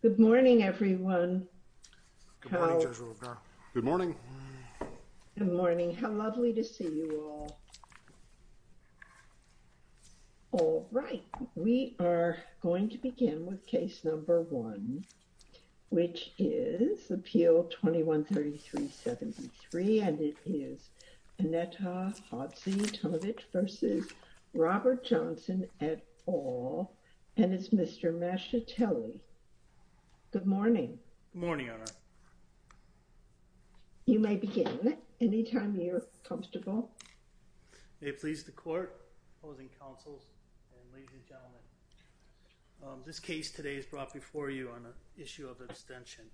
Good morning, everyone. Good morning. Good morning. How lovely to see you all. All right, we are going to begin with case number one, which is Appeal 213373 and it is Aneta Hadzi-Tanovic v. Robert Johnson et al and it's Mr. Masciatelli. Good morning. Good morning, Your Honor. You may begin anytime you're comfortable. May it please the court, opposing counsels, and ladies and gentlemen, this case today is brought before you on the issue of abstention.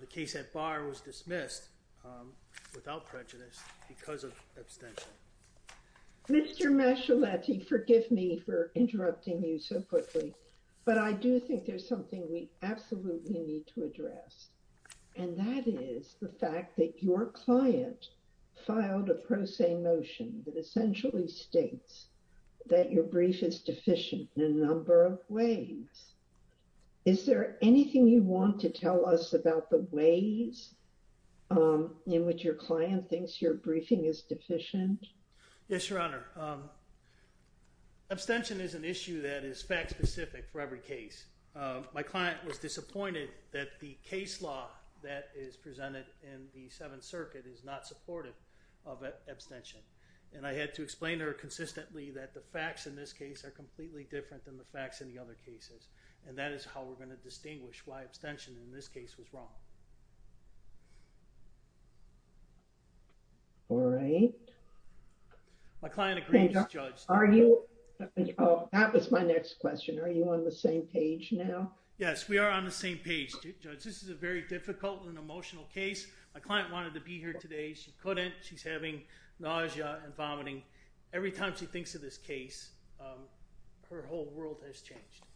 The case at bar was dismissed without prejudice because of abstention. Mr. Masciatelli, forgive me for interrupting you so quickly, but I do think there's something we absolutely need to address and that is the fact that your client filed a pro se motion that essentially states that your brief is deficient in a number of ways. Is there anything you want to tell us about the ways in which your client thinks your briefing is deficient? Yes, Your Honor. Abstention is an issue that is fact specific for every case. My client was disappointed that the case law that is presented in the Seventh Circuit is not supportive of abstention and I had to explain to her consistently that the facts in this case are completely different than the facts in the other cases and that is how we're going to distinguish why abstention in this case was wrong. All right. My client agrees, Judge. That was my next question. Are you on the same page now? Yes, we are on the same page, Judge. This is a very difficult and emotional case. My client wanted to be here today. She couldn't. She's having nausea and vomiting. Every time she thinks of this case, her whole world has changed.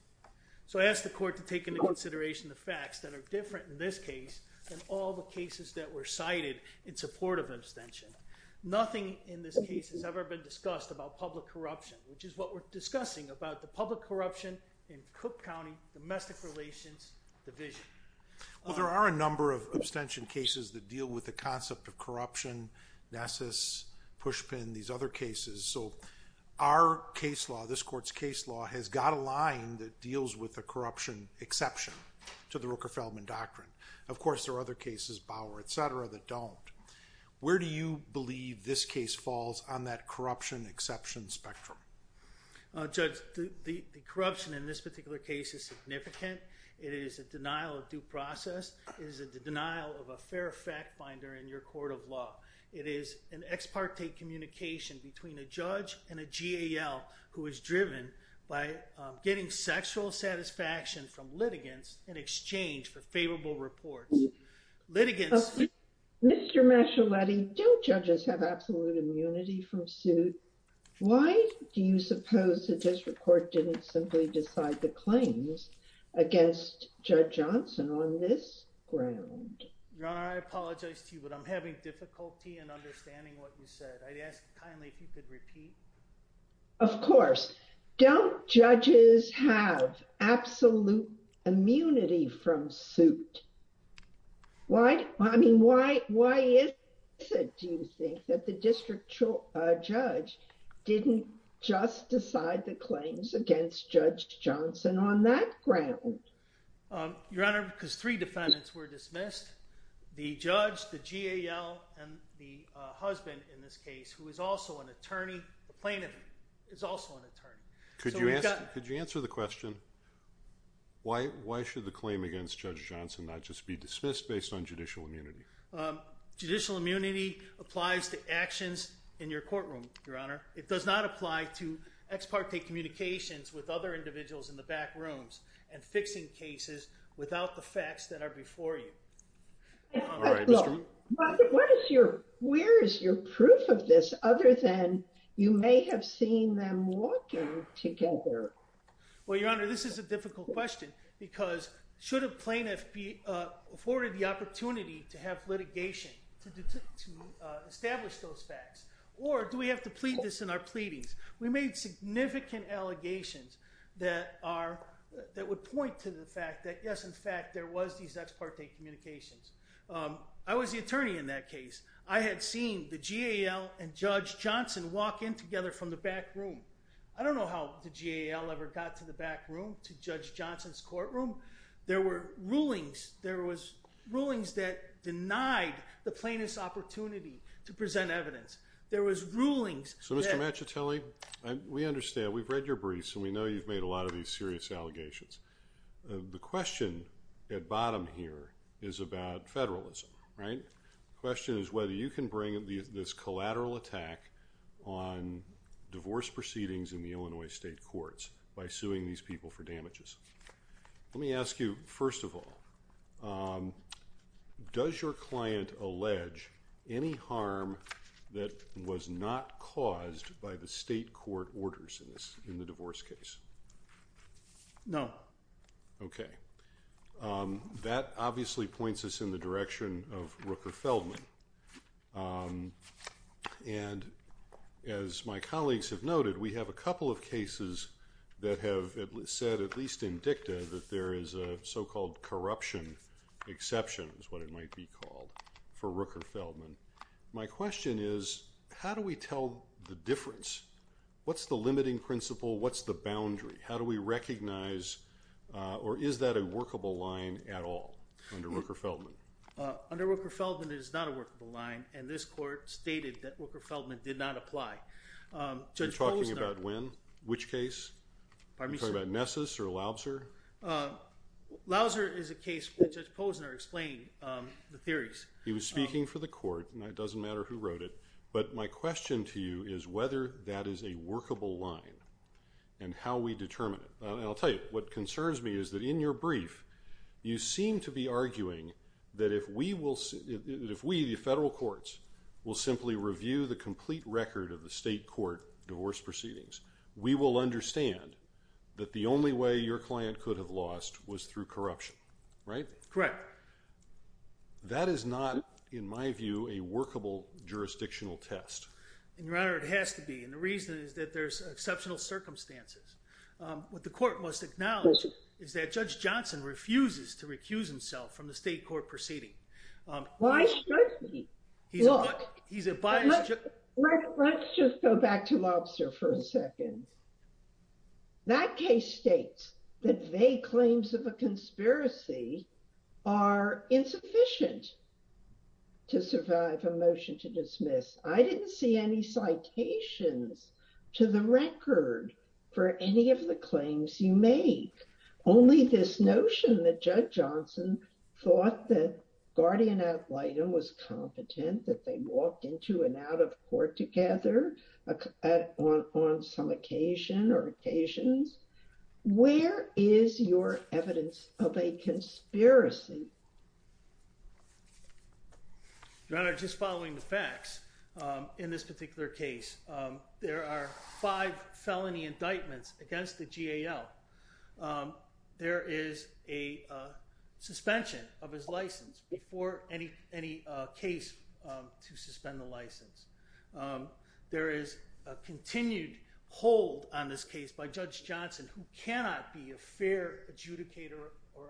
So I asked the court to take into consideration the facts that are different in this case than all the cases that were cited in support of abstention. Nothing in this case has ever been discussed about public corruption, which is what we're discussing about the public corruption in Cook County Domestic Relations Division. Well, there are a number of abstention cases that deal with the concept of corruption, Nessus, Pushpin, these other cases. So our case law, this court's case law has got a line that deals with the corruption exception to the Rooker-Feldman Doctrine. Of course, there are other cases, Bauer, et cetera, that don't. Where do you believe this case falls on that corruption exception spectrum? Judge, the corruption in this particular case is significant. It is a denial of due process. It is a denial of a fair fact finder in your court of law. It is an ex parte communication between a judge and a GAL who is driven by getting sexual satisfaction from litigants in exchange for favorable reports. Litigants- Mr. Mascialetti, do judges have absolute immunity from suit? Why do you suppose that this report didn't simply decide the claims against Judge Johnson on this ground? Your Honor, I apologize to you, but I'm having difficulty in understanding what you said. I'd ask kindly if you could repeat. Of course. Don't judges have absolute immunity from suit? Why? I mean, why is it, do you think, that the district judge didn't just decide the claims against Judge Johnson on that ground? Your Honor, because three defendants were dismissed. The judge, the GAL, and the husband in this case, who is also an attorney, a plaintiff, is also an attorney. Could you answer the question, why should the claim against Judge Johnson not just be dismissed based on judicial immunity? Judicial immunity applies to actions in your courtroom, Your Honor. It does not apply to ex parte communications with other individuals in the back rooms and fixing cases without the facts that are before you. What is your, where is your proof of this other than you may have seen them walking together? Well, Your Honor, this is a difficult question because should a plaintiff be afforded the established those facts? Or do we have to plead this in our pleadings? We made significant allegations that are, that would point to the fact that, yes, in fact, there was these ex parte communications. I was the attorney in that case. I had seen the GAL and Judge Johnson walk in together from the back room. I don't know how the GAL ever got to the back room to Judge Johnson's to present evidence. There was rulings. So, Mr. Machitelli, we understand. We've read your briefs and we know you've made a lot of these serious allegations. The question at bottom here is about federalism, right? The question is whether you can bring this collateral attack on divorce proceedings in the Illinois state courts by suing these people for damages. Let me ask you, first of all, does your client allege any harm that was not caused by the state court orders in the divorce case? No. Okay. That obviously points us in the direction of Rooker Feldman. And as my colleagues have noted, we have a couple of cases that have said, at least in dicta, that there is a so-called corruption exception is what it might be called for Rooker Feldman. My question is how do we tell the difference? What's the limiting principle? What's the boundary? How do we recognize or is that a workable line at all under Rooker Feldman? Under Rooker Feldman, it is not a workable line. And this court stated that Rooker Feldman did not apply. You're talking about when? Which case? You're talking about Nessus or Lauser? Lauser is a case where Judge Posner explained the theories. He was speaking for the court and it doesn't matter who wrote it. But my question to you is whether that is a workable line and how we determine it. I'll tell you, what concerns me is that in your brief, you seem to be arguing that if we, the federal courts, will simply review the case and understand that the only way your client could have lost was through corruption, right? Correct. That is not, in my view, a workable jurisdictional test. Your Honor, it has to be. And the reason is that there's exceptional circumstances. What the court must acknowledge is that Judge Johnson refuses to recuse himself from the state court proceeding. Why should he? Look, let's just go back to Lobster for a second. That case states that vague claims of a conspiracy are insufficient to survive a motion to dismiss. I didn't see any citations to the record for any of the claims you make. Only this notion that Judge Johnson thought that guardian ad litem was competent, that they were not, is not true. So, in your brief, you seem to be arguing that if we, the federal courts, That is not, in my view, a workable jurisdictional test. Why should he? Look, let's just go back to Lobster for a second. That case states that vague claims of a conspiracy are insufficient to survive by Judge Johnson, who cannot be a fair adjudicator or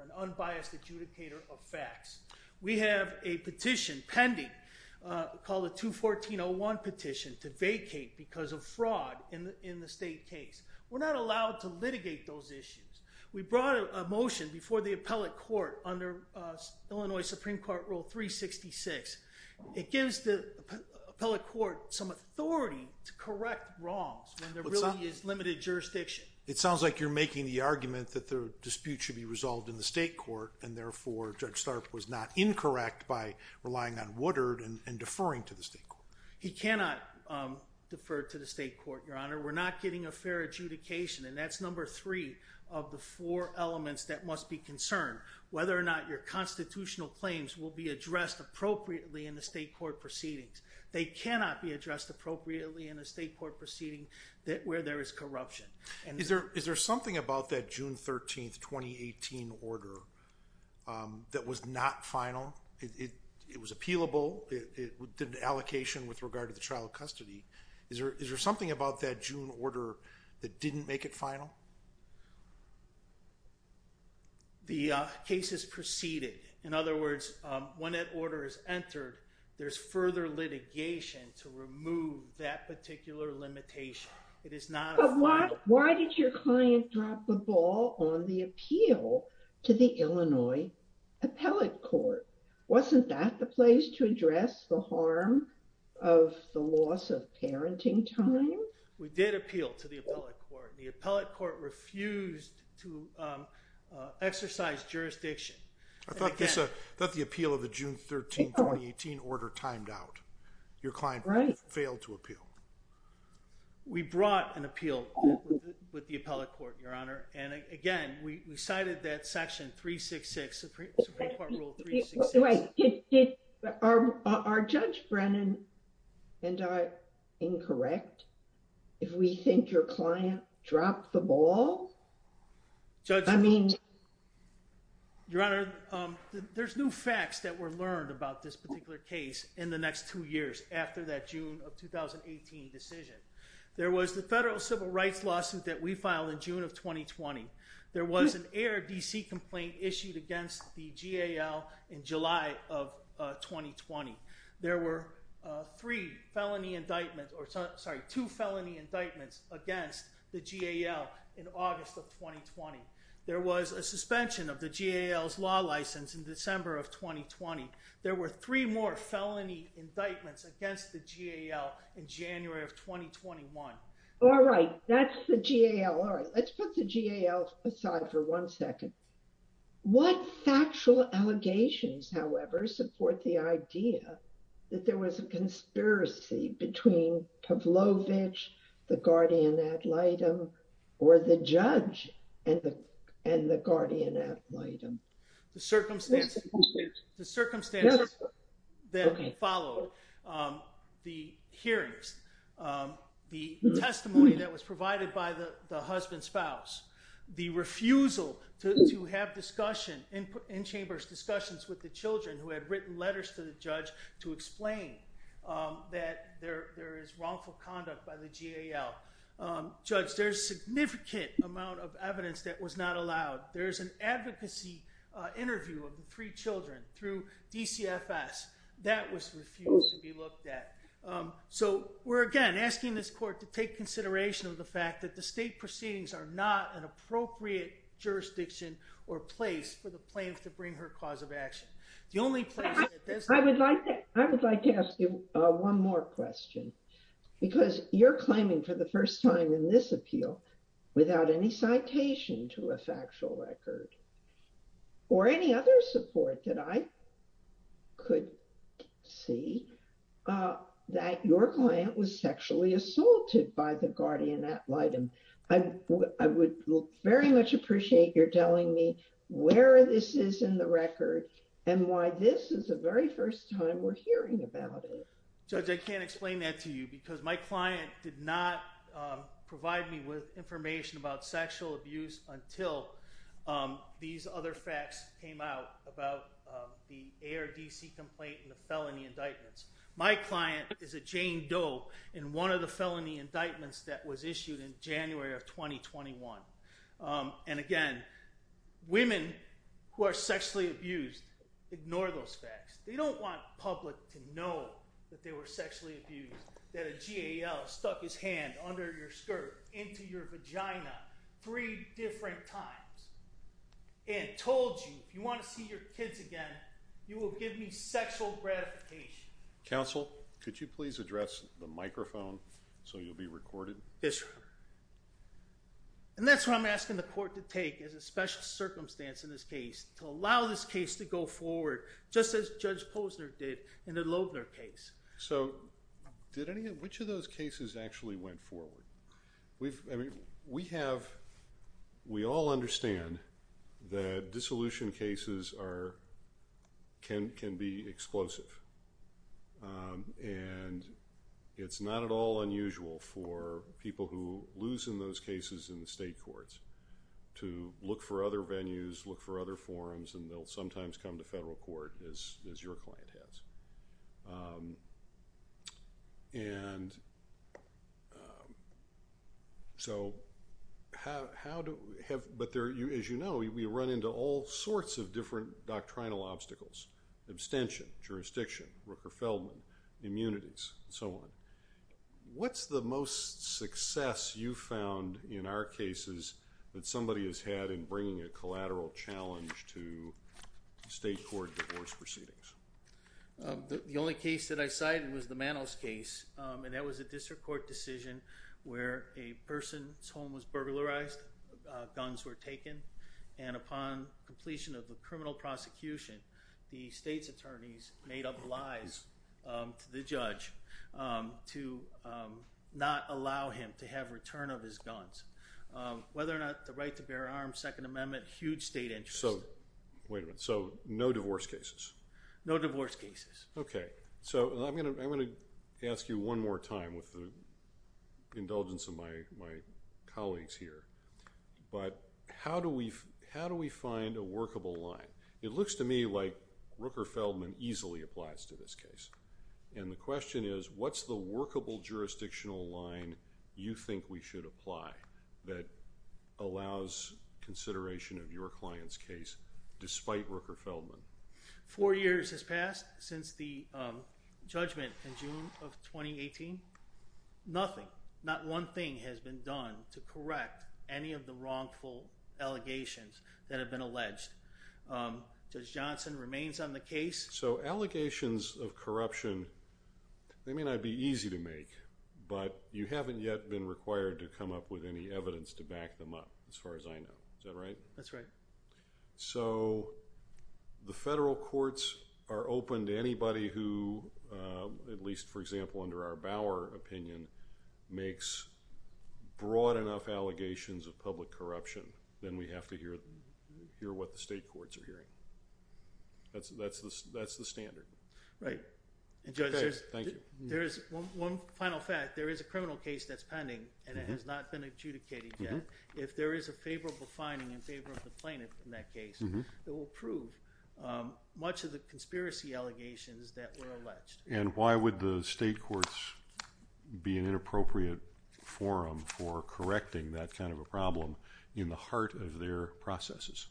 an unbiased adjudicator of facts. We have a petition pending called the 214-01 petition to vacate because of fraud in the state case. We're not allowed to litigate those issues. We brought a motion before the appellate court under Illinois Supreme Court Rule 366. It gives the appellate court some authority to correct wrongs when there really is limited jurisdiction. It sounds like you're making the argument that the dispute should be resolved in the state court and therefore Judge Tharp was not incorrect by relying on Woodard and deferring to the state court. He cannot defer to the state court, Your Honor. We're not getting a fair adjudication and that's number three of the four elements that must be concerned. Whether or not your constitutional claims will be addressed appropriately in the state proceedings. They cannot be addressed appropriately in a state court proceeding where there is corruption. Is there something about that June 13, 2018 order that was not final? It was appealable. It did an allocation with regard to the trial of custody. Is there something about that June order that didn't make it final? The case is preceded. In other words, when that order is entered, there's further litigation to remove that particular limitation. It is not... But why did your client drop the ball on the appeal to the Illinois appellate court? Wasn't that the place to address the harm of the loss of parenting time? We did appeal to the appellate court. The appellate court refused to exercise jurisdiction. I thought the appeal of the June 13, 2018 order timed out. Your client failed to appeal. We brought an appeal with the appellate court, Your Honor. And again, we cited that section 366, Supreme Court Rule 366. Are Judge Brennan and I incorrect if we think your client dropped the ball? Judge, I mean... Your Honor, there's new facts that were learned about this particular case in the next two years after that June of 2018 decision. There was the federal civil rights lawsuit that we filed in issued against the GAL in July of 2020. There were two felony indictments against the GAL in August of 2020. There was a suspension of the GAL's law license in December of 2020. There were three more felony indictments against the GAL in January of 2021. All right. That's the GAL. Let's put the GAL aside for one second. What factual allegations, however, support the idea that there was a conspiracy between Pavlovich, the guardian ad litem, or the judge and the guardian ad litem? The circumstances that followed the hearings, the testimony that was provided by the husband-spouse, the refusal to have discussion, in-chambers discussions with the children who had written letters to the judge to explain that there is wrongful conduct by the GAL. Judge, there's significant amount of evidence that was not allowed. There's an advocacy interview of the three children through DCFS that was refused to be looked at. So we're, again, asking this court to take consideration of the fact that the state proceedings are not an appropriate jurisdiction or place for the plaintiff to bring her cause of action. The only place that does... I would like to ask you one more question, because you're claiming for the first time in this appeal without any citation to a factual record or any other support that I could see that your client was sexually assaulted by the guardian ad litem. I would very much appreciate your telling me where this is in the record and why this is the very first time we're hearing about it. Judge, I can't explain that to you, because my client did not provide me with information about sexual abuse until these other facts came out about the ARDC complaint and the felony indictments. My client is a Jane Doe, and one of the felony indictments was filed in January of 2021. And again, women who are sexually abused ignore those facts. They don't want public to know that they were sexually abused, that a GAL stuck his hand under your skirt into your vagina three different times and told you, if you want to see your kids again, you will give me sexual gratification. Counsel, could you please address the microphone so you'll be recorded? And that's what I'm asking the court to take as a special circumstance in this case, to allow this case to go forward, just as Judge Posner did in the Loebner case. So did any of... Which of those cases actually went forward? We've... I mean, we have... We all understand that dissolution cases are... can be explosive. And it's not at all unusual for people who lose in those cases in the state courts to look for other venues, look for other forums, and they'll sometimes come to federal court, as your client has. And so how do we have... As you know, we run into all sorts of different doctrinal obstacles, abstention, jurisdiction, Rooker-Feldman, immunities, and so on. What's the most success you've found in our cases that somebody has had in bringing a collateral challenge to state court divorce proceedings? The only case that I cited was the Manos case, and that was a district court decision where a person's home was burglarized, guns were taken, and upon completion of the criminal prosecution, the state's attorneys made up lies to the judge to not allow him to have return of his guns. Whether or not the right to bear arms, Second Amendment, huge state interest. So... Wait a minute. So no divorce cases? No divorce cases. Okay. So I'm going to ask you one more time with the indulgence of my colleagues here, but how do we find a workable line? It looks to me like Rooker-Feldman easily applies to this case. And the question is, what's the workable jurisdictional line you think we should apply that allows consideration of your client's case despite Rooker-Feldman? Four years has passed since the judgment in June of 2018. Nothing, not one thing has been done to correct any of the wrongful allegations that have been alleged. Judge Johnson remains on the case. So allegations of corruption, they may not be easy to make, but you haven't yet been required to come up with any evidence to back them up as far as I So the federal courts are open to anybody who, at least for example under our Bauer opinion, makes broad enough allegations of public corruption, then we have to hear what the state courts are hearing. That's the standard. Right. And Judge, there is one final fact. There is a criminal case that's pending and it has not been adjudicated yet. If there is a favorable finding in favor of the plaintiff in that case, it will prove much of the conspiracy allegations that were alleged. And why would the state courts be an inappropriate forum for correcting that kind of a problem in the heart of their processes?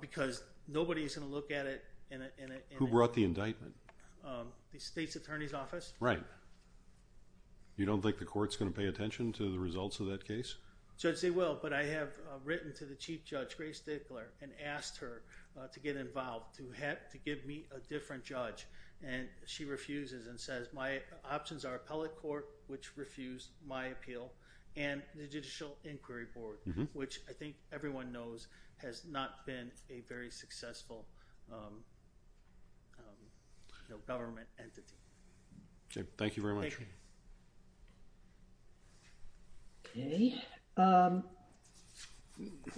Because nobody's going to look at it. Who brought the indictment? The state's attorney's office. Right. You don't think the court's going to pay Judge Gray Stickler and asked her to get involved, to have, to give me a different judge. And she refuses and says, my options are appellate court, which refused my appeal and the judicial inquiry board, which I think everyone knows has not been a very successful government entity. Thank you very much. Okay. Um,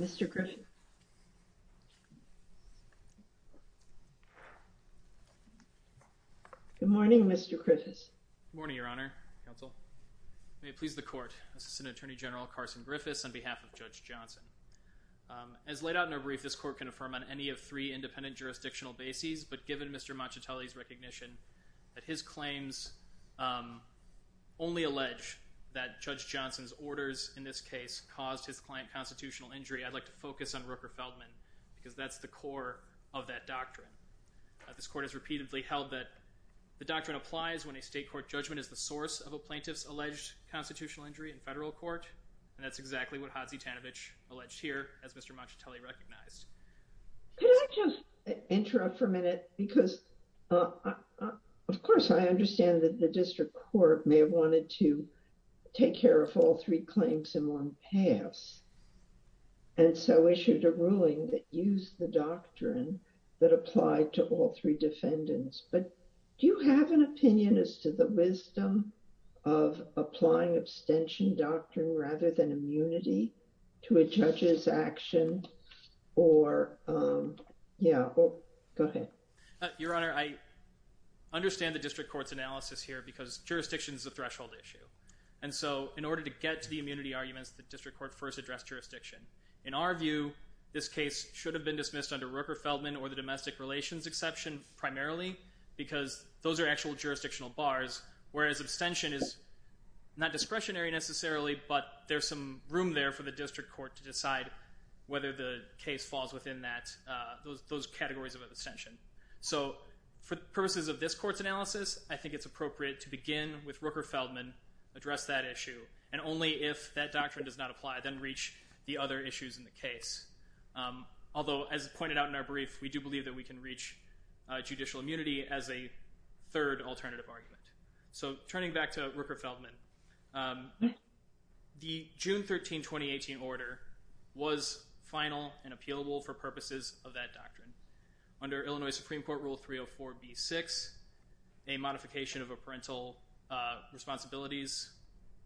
Mr. Griffin. Good morning, Mr. Griffiths. Morning, Your Honor. May it please the court. This is an attorney general, Carson Griffiths on behalf of Judge Johnson. Um, as laid out in a brief, this court can affirm on any of three independent jurisdictional bases, but given Mr. Machitelli's that his claims, um, only allege that Judge Johnson's orders in this case caused his client constitutional injury. I'd like to focus on Rooker Feldman because that's the core of that doctrine. This court has repeatedly held that the doctrine applies when a state court judgment is the source of a plaintiff's alleged constitutional injury in federal court. And that's exactly what Hadzi Tanovich alleged here as Mr. Machitelli recognized. Could I just interrupt for a minute? Because, uh, of course, I understand that the district court may have wanted to take care of all three claims in one pass. And so issued a ruling that used the doctrine that applied to all three defendants. But do you have an opinion as to the wisdom of applying abstention doctrine rather than immunity to a judge's action or, um, yeah, go ahead. Your Honor, I understand the district court's analysis here because jurisdiction is a threshold issue. And so in order to get to the immunity arguments, the district court first addressed jurisdiction. In our view, this case should have been dismissed under Rooker Feldman or the domestic relations exception primarily because those are actual jurisdictional bars, whereas abstention is not discretionary necessarily, but there's some room there for the district court to decide whether the case falls within that, uh, those, those categories of abstention. So for purposes of this court's analysis, I think it's appropriate to begin with Rooker Feldman, address that issue. And only if that doctrine does not apply, then reach the other issues in the case. Although as pointed out in our brief, we do believe that we can reach judicial immunity as a third alternative argument. So turning back to Rooker Feldman, um, the June 13, 2018 order was final and appealable for purposes of that doctrine. Under Illinois Supreme Court Rule 304B-6, a modification of a parental, uh, responsibilities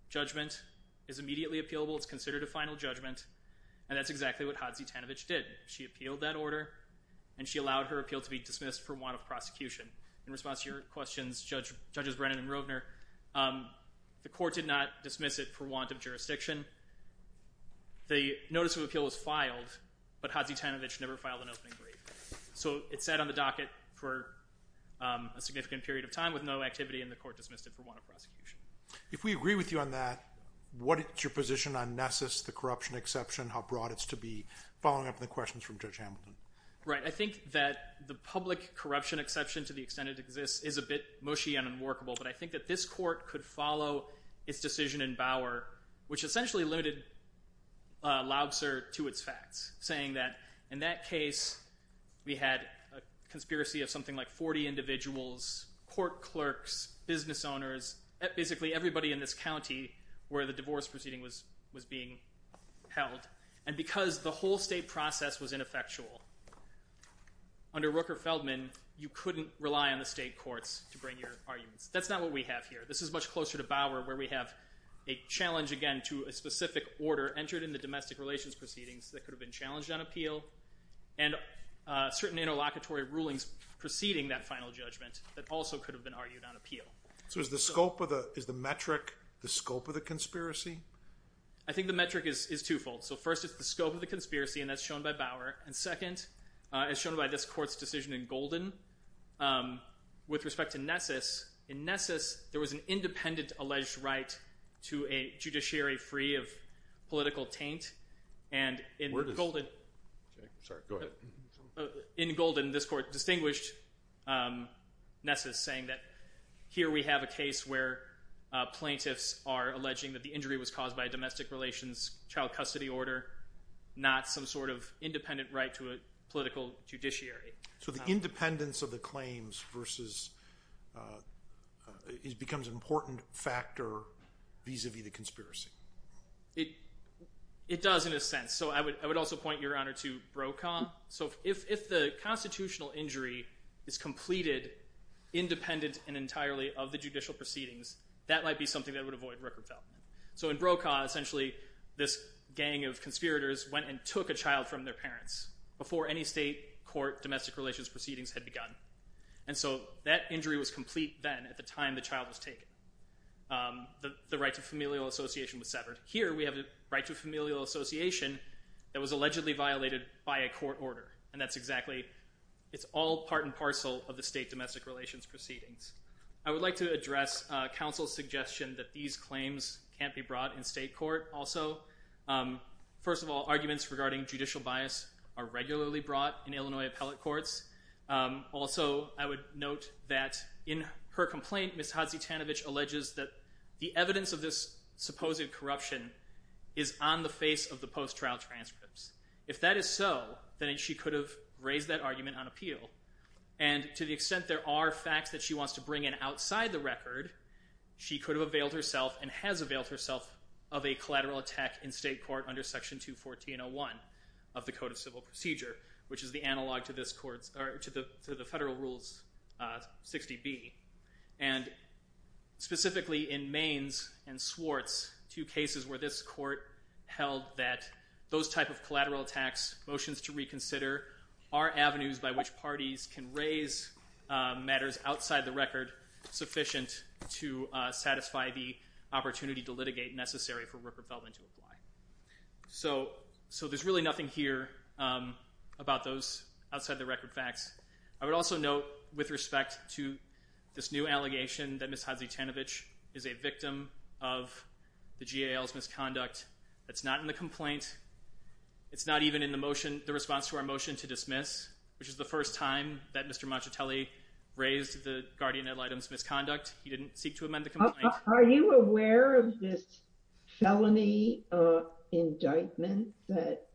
judgment is immediately appealable. It's considered a final judgment. And that's exactly what Hodzie Tanovich did. She appealed that order and she allowed her appeal to be dismissed for want of jurisdiction. The court did not dismiss it for want of jurisdiction. The notice of appeal was filed, but Hodzie Tanovich never filed an opening brief. So it sat on the docket for, um, a significant period of time with no activity and the court dismissed it for want of prosecution. If we agree with you on that, what is your position on Nessus, the corruption exception, how broad it's to be? Following up on the questions from Judge Hamilton. Right. I think that the public corruption exception to the extent it exists is a bit of a problem. I think in that case, the court could follow its decision in Bower, which essentially limited, uh, Laubser to its facts, saying that in that case, we had a conspiracy of something like 40 individuals, court clerks, business owners, basically everybody in this county where the divorce proceeding was, was being held. And because the whole state process was ineffectual under Rooker Feldman, you couldn't rely on the state courts to bring your arguments. That's not what we have here. This is much closer to Bower where we have a challenge again to a specific order entered in the domestic relations proceedings that could have been challenged on appeal and, uh, certain interlocutory rulings preceding that final judgment that also could have been argued on appeal. So is the scope of the, is the metric the scope of the conspiracy? I think the metric is, is twofold. So first it's the scope of the conspiracy and that's shown by Bower. And second, uh, as shown by this court's decision in Golden, um, with respect to Nessus, in Nessus, there was an independent alleged right to a judiciary free of political taint. And in Golden, sorry, go ahead. In Golden, this court distinguished, um, Nessus saying that here we have a case where, uh, plaintiffs are alleging that the injury was caused by a domestic relations child custody order, not some sort of independent right to a political judiciary. So the independence of the claims versus, uh, it becomes an important factor vis-a-vis the conspiracy. It, it does in a sense. So I would, I would also point your honor to Brokaw. So if, if the constitutional injury is completed independent and entirely of the judicial proceedings, that might be something that would avoid record development. So in Brokaw, essentially this gang of conspirators went and took a child from their parents before any state court domestic relations proceedings had begun. And so that injury was complete then at the time the child was taken. Um, the, the right to familial association was severed. Here we have the right to familial association that was allegedly violated by a court order. And that's exactly, it's all part and parcel of the state domestic relations proceedings. I would like to address, uh, counsel's suggestion that these claims can't be brought in state court also. Um, first of all, arguments regarding judicial bias are regularly brought in Illinois appellate courts. Um, also I would note that in her complaint, Ms. Hodzie-Tanovich alleges that the evidence of this supposed corruption is on the face of the post-trial transcripts. If that is so, then she could have raised that argument on appeal. And to the extent there are facts that she wants to bring in outside the record, she could have availed herself and has availed herself of a collateral attack in state court under section 214-01 of the code of civil procedure, which is the analog to this court's or to the, to the federal rules, uh, 60B. And specifically in Maines and Swartz, two cases where this court held that those type of collateral attacks motions to reconsider are avenues by which parties can raise, uh, matters outside the record sufficient to, uh, opportunity to litigate necessary for Rupert Feldman to apply. So, so there's really nothing here, um, about those outside the record facts. I would also note with respect to this new allegation that Ms. Hodzie-Tanovich is a victim of the GAL's misconduct. That's not in the complaint. It's not even in the motion, the response to our motion to dismiss, which is the first time that Mr. Mancitelli raised the guardian idol items misconduct. He didn't seek to amend the complaint. Are you aware of this felony, uh, indictment that,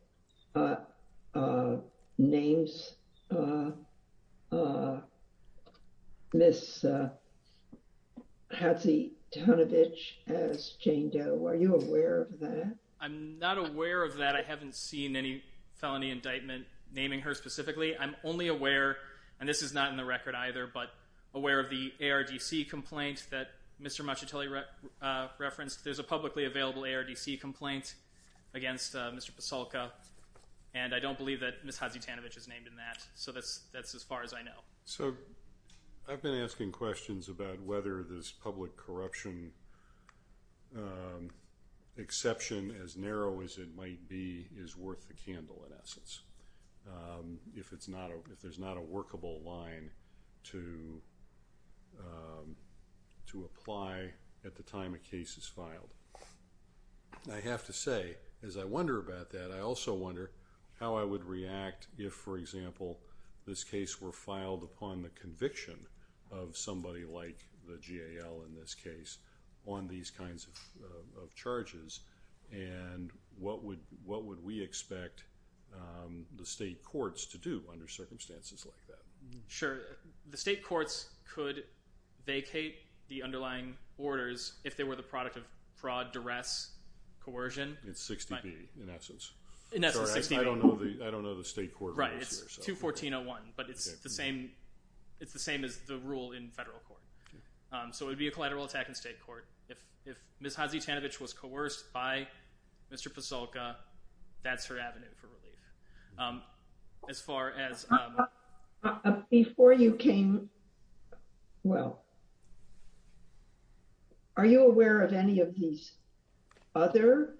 uh, uh, names, uh, uh, Ms. Hodzie-Tanovich as Jane Doe? Are you aware of that? I'm not aware of that. I haven't seen any felony indictment naming her specifically. I'm only aware, and this is not in the record either, but Mr. Mancitelli referenced there's a publicly available ARDC complaint against, uh, Mr. Pasulka and I don't believe that Ms. Hodzie-Tanovich is named in that. So that's, that's as far as I know. So I've been asking questions about whether this public corruption, um, exception as narrow as it might be is worth the candle in essence. Um, if it's not, if there's not a workable line to, um, to apply at the time a case is filed. I have to say, as I wonder about that, I also wonder how I would react if, for example, this case were filed upon the conviction of somebody like the GAL in this case on these kinds of, uh, of charges and what would, what would we expect, um, the state courts to do under circumstances like that? Sure. The state courts could vacate the underlying orders if they were the product of fraud, duress, coercion. It's 60B in essence. In essence, 60B. I don't know the, I don't know the state court rules here. Right. It's 214-01, but it's the same, it's the same as the rule in federal court. Um, so it would be a collateral attack in state court. If, if Ms. Hodzie-Tanovich was coerced by Mr. Pasulka, that's her avenue. Um, as far as, um. Before you came, well, are you aware of any of these other,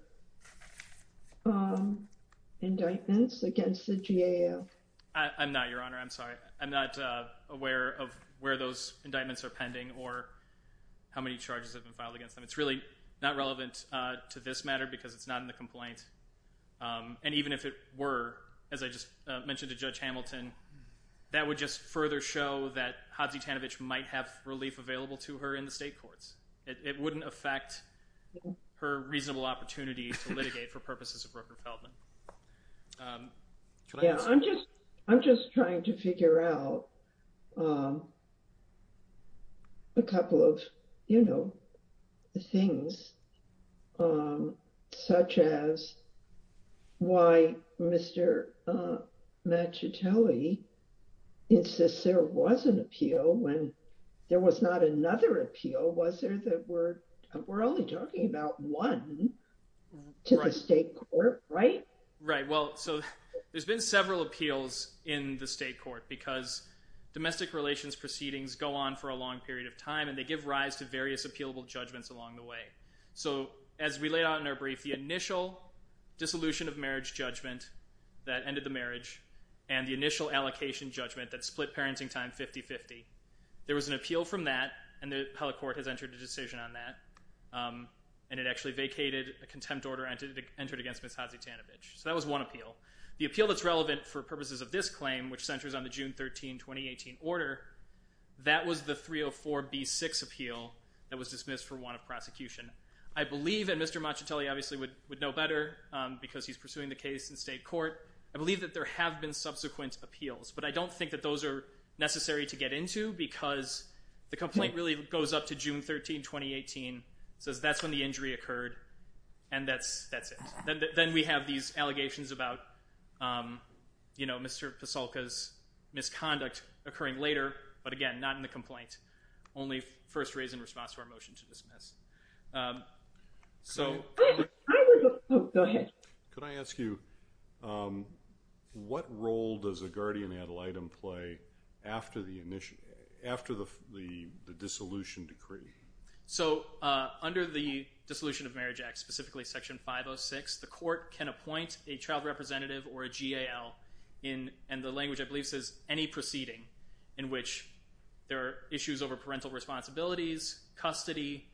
um, indictments against the GAL? I, I'm not, Your Honor. I'm sorry. I'm not, uh, aware of where those indictments are pending or how many charges have been filed against them. It's really not relevant, uh, to this matter because it's not in the complaint. Um, and even if it were, as I just mentioned to Judge Hamilton, that would just further show that Hodzie-Tanovich might have relief available to her in the state courts. It, it wouldn't affect her reasonable opportunity to litigate for purposes of Rooker Feldman. Um. Yeah, I'm just, I'm just trying to figure out, um, a couple of, you know, things, um, such as why Mr. Machitelli insists there was an appeal when there was not another appeal. Was there that we're, we're only talking about one to the state court, right? Right. Well, so there's been several appeals in the state court because domestic relations proceedings go on for a long period of time and they give rise to various appealable judgments along the way. So as we laid out in our brief, the initial dissolution of marriage judgment that ended the marriage and the initial allocation judgment that split parenting time 50-50, there was an appeal from that and the appellate court has entered a decision on that, um, and it actually vacated a contempt order entered against Ms. Hodzie-Tanovich. So that was one appeal. The appeal that's relevant for purposes of this claim, which centers on the June 13, 2018 order, that was the 304B6 appeal that was dismissed for want of prosecution. I believe, and Mr. Machitelli obviously would, would know better, um, because he's pursuing the case in state court. I believe that there have been subsequent appeals, but I don't think that those are necessary to get into because the complaint really goes up to June 13, 2018. It says that's when the injury occurred and that's, that's it. Then, then we have these allegations about, um, you know, Mr. Pasolka's conduct occurring later, but again, not in the complaint. Only first raise in response to our motion to dismiss. Um, so... Go ahead. Could I ask you, um, what role does a guardian ad litem play after the initial, after the, the, the dissolution decree? So, uh, under the Dissolution of Marriage Act, specifically Section 506, the court can appoint a child representative or a GAL in, and the language I believe says any proceeding in which there are issues over parental responsibilities, custody,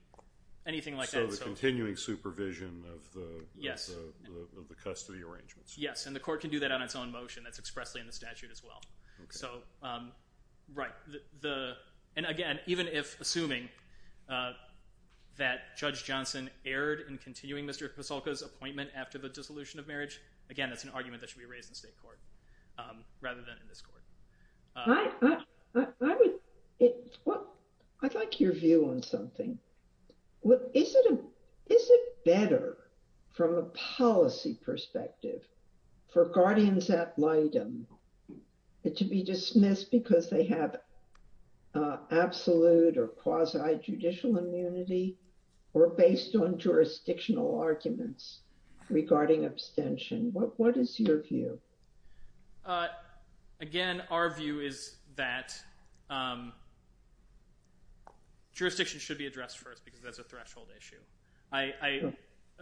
anything like that. So the continuing supervision of the... Yes. Of the custody arrangements. Yes, and the court can do that on its own motion. That's expressly in the statute as well. So, um, right. The, the, and again, even if assuming, uh, that Judge Johnson erred in continuing Mr. Pasolka's appointment after the dissolution of marriage, again, that's an argument that should be raised in state court, um, rather than in this court. I, I, I, I would, it, well, I'd like your view on something. What, is it a, is it better from a policy perspective for guardians ad litem to be dismissed because they have, uh, absolute or quasi-judicial immunity or based on jurisdictional arguments regarding abstention? What, what is your view? Uh, again, our view is that, um, jurisdiction should be addressed first because that's a threshold issue. I, I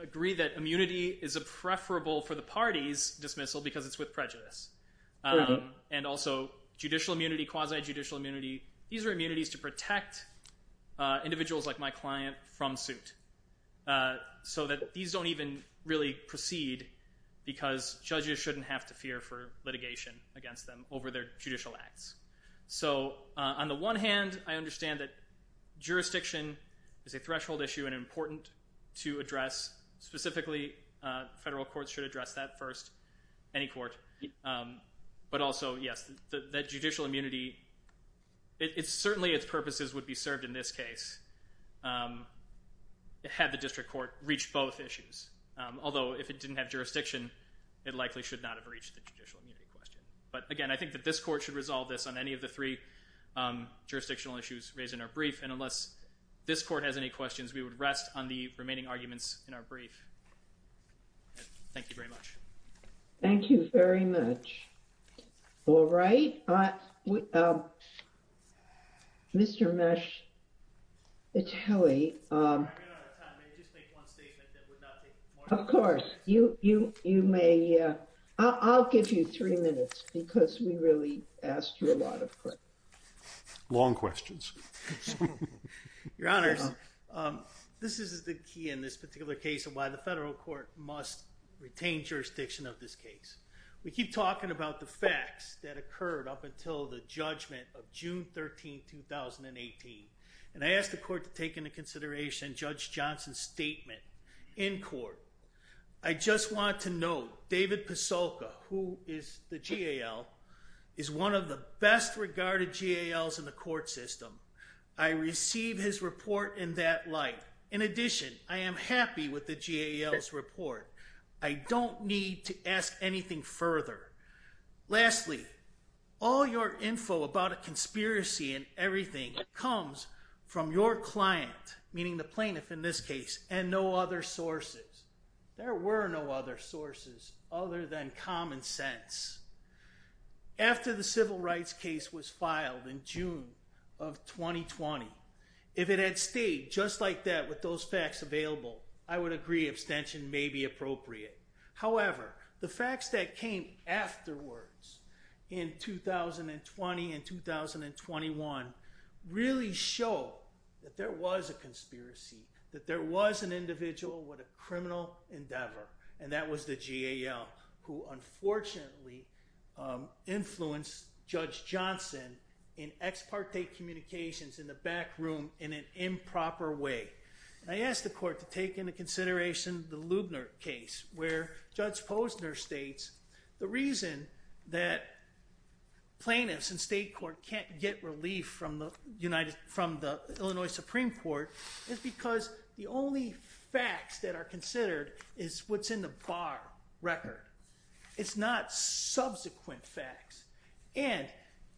agree that immunity is a preferable for the party's dismissal because it's with prejudice, um, and also judicial immunity, quasi-judicial immunity. These are immunities to protect, uh, individuals like my these don't even really proceed because judges shouldn't have to fear for litigation against them over their judicial acts. So, uh, on the one hand, I understand that jurisdiction is a threshold issue and important to address. Specifically, uh, federal courts should address that first, any court. Um, but also, yes, the, the judicial immunity, it, it's certainly its in this case, um, it had the district court reach both issues. Um, although if it didn't have jurisdiction, it likely should not have reached the judicial immunity question. But again, I think that this court should resolve this on any of the three, um, jurisdictional issues raised in our brief. And unless this court has any questions, we would rest on the remaining arguments in our brief. Thank you very much. Thank you very much. All right. Uh, um, Mr. Meschatelli, um, of course you, you, you may, uh, I'll, I'll give you three minutes because we really asked you a lot of questions. Your honors. Um, this is the key in this particular case of why the federal court must retain jurisdiction of this case. We keep talking about the facts that occurred up until the judgment of June 13th, 2018. And I asked the court to take into consideration judge Johnson's statement in court. I just want to know David Pasolka, who is the GAL is one of the best regarded GALs in the court system. I received his report in that light. In addition, I am happy with the GALs report. I don't need to ask anything further. Lastly, all your info about a conspiracy and everything comes from your client, meaning the plaintiff in this case and no other sources. There were no other sources other than common sense. After the civil rights case was filed in June of 2020, if it had stayed just like that with those facts available, I would agree abstention may be appropriate. However, the facts that came afterwards in 2020 and 2021 really show that there was a conspiracy, that there was an individual with a criminal endeavor. And that was the GAL who unfortunately influenced judge Johnson in ex parte communications in the back room in an improper way. I asked the court to take into consideration the Lubner case where judge Posner states, the reason that plaintiffs in state court can't get relief from the Illinois Supreme Court is because the only facts that are considered is what's in the bar record. It's not subsequent facts. And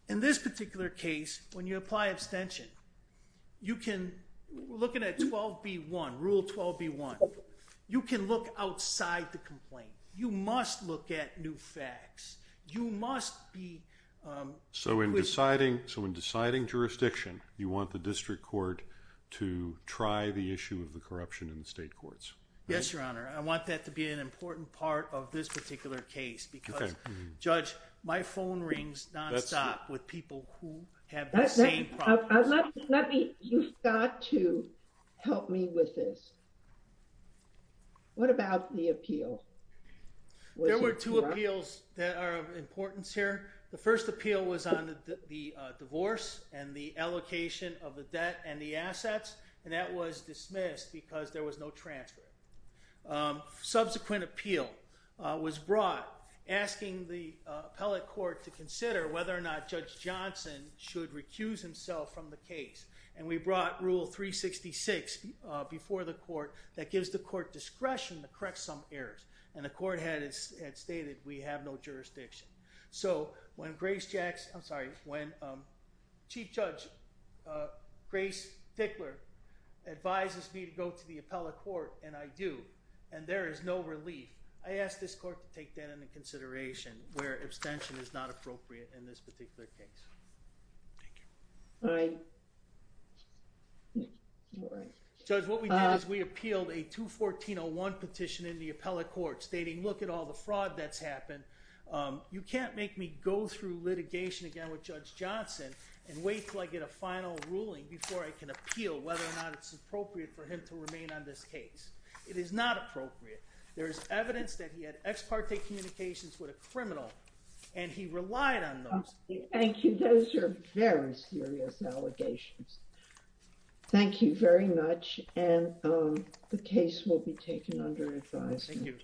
in this particular case, when you apply abstention, you can look at 12B1, rule 12B1. You can look outside the complaint. You must look at new facts. You must be... So in deciding jurisdiction, you want the district court to try the issue of the corruption in the state courts? Yes, your honor. I want that to be an My phone rings nonstop with people who have the same problems. You've got to help me with this. What about the appeal? There were two appeals that are of importance here. The first appeal was on the divorce and the allocation of the debt and the assets. And that was dismissed because there was no transfer. Subsequent appeal was brought asking the appellate court to consider whether or not Judge Johnson should recuse himself from the case. And we brought rule 366 before the court that gives the court discretion to correct some errors. And the court had stated we have no jurisdiction. So when Chief Judge Grace Dickler advises me to go to the appellate court and I do, and there is no relief, I ask this court to take that into consideration where abstention is not appropriate in this particular case. Thank you. All right. Judge, what we did is we appealed a 214-01 petition in the appellate court stating, look at all the fraud that's happened. You can't make me go through litigation again with Judge Johnson and wait till I get a final ruling before I can appeal whether or not it's appropriate for remain on this case. It is not appropriate. There is evidence that he had ex parte communications with a criminal and he relied on those. Thank you. Those are very serious allegations. Thank you very much. And the case will be taken under advisement.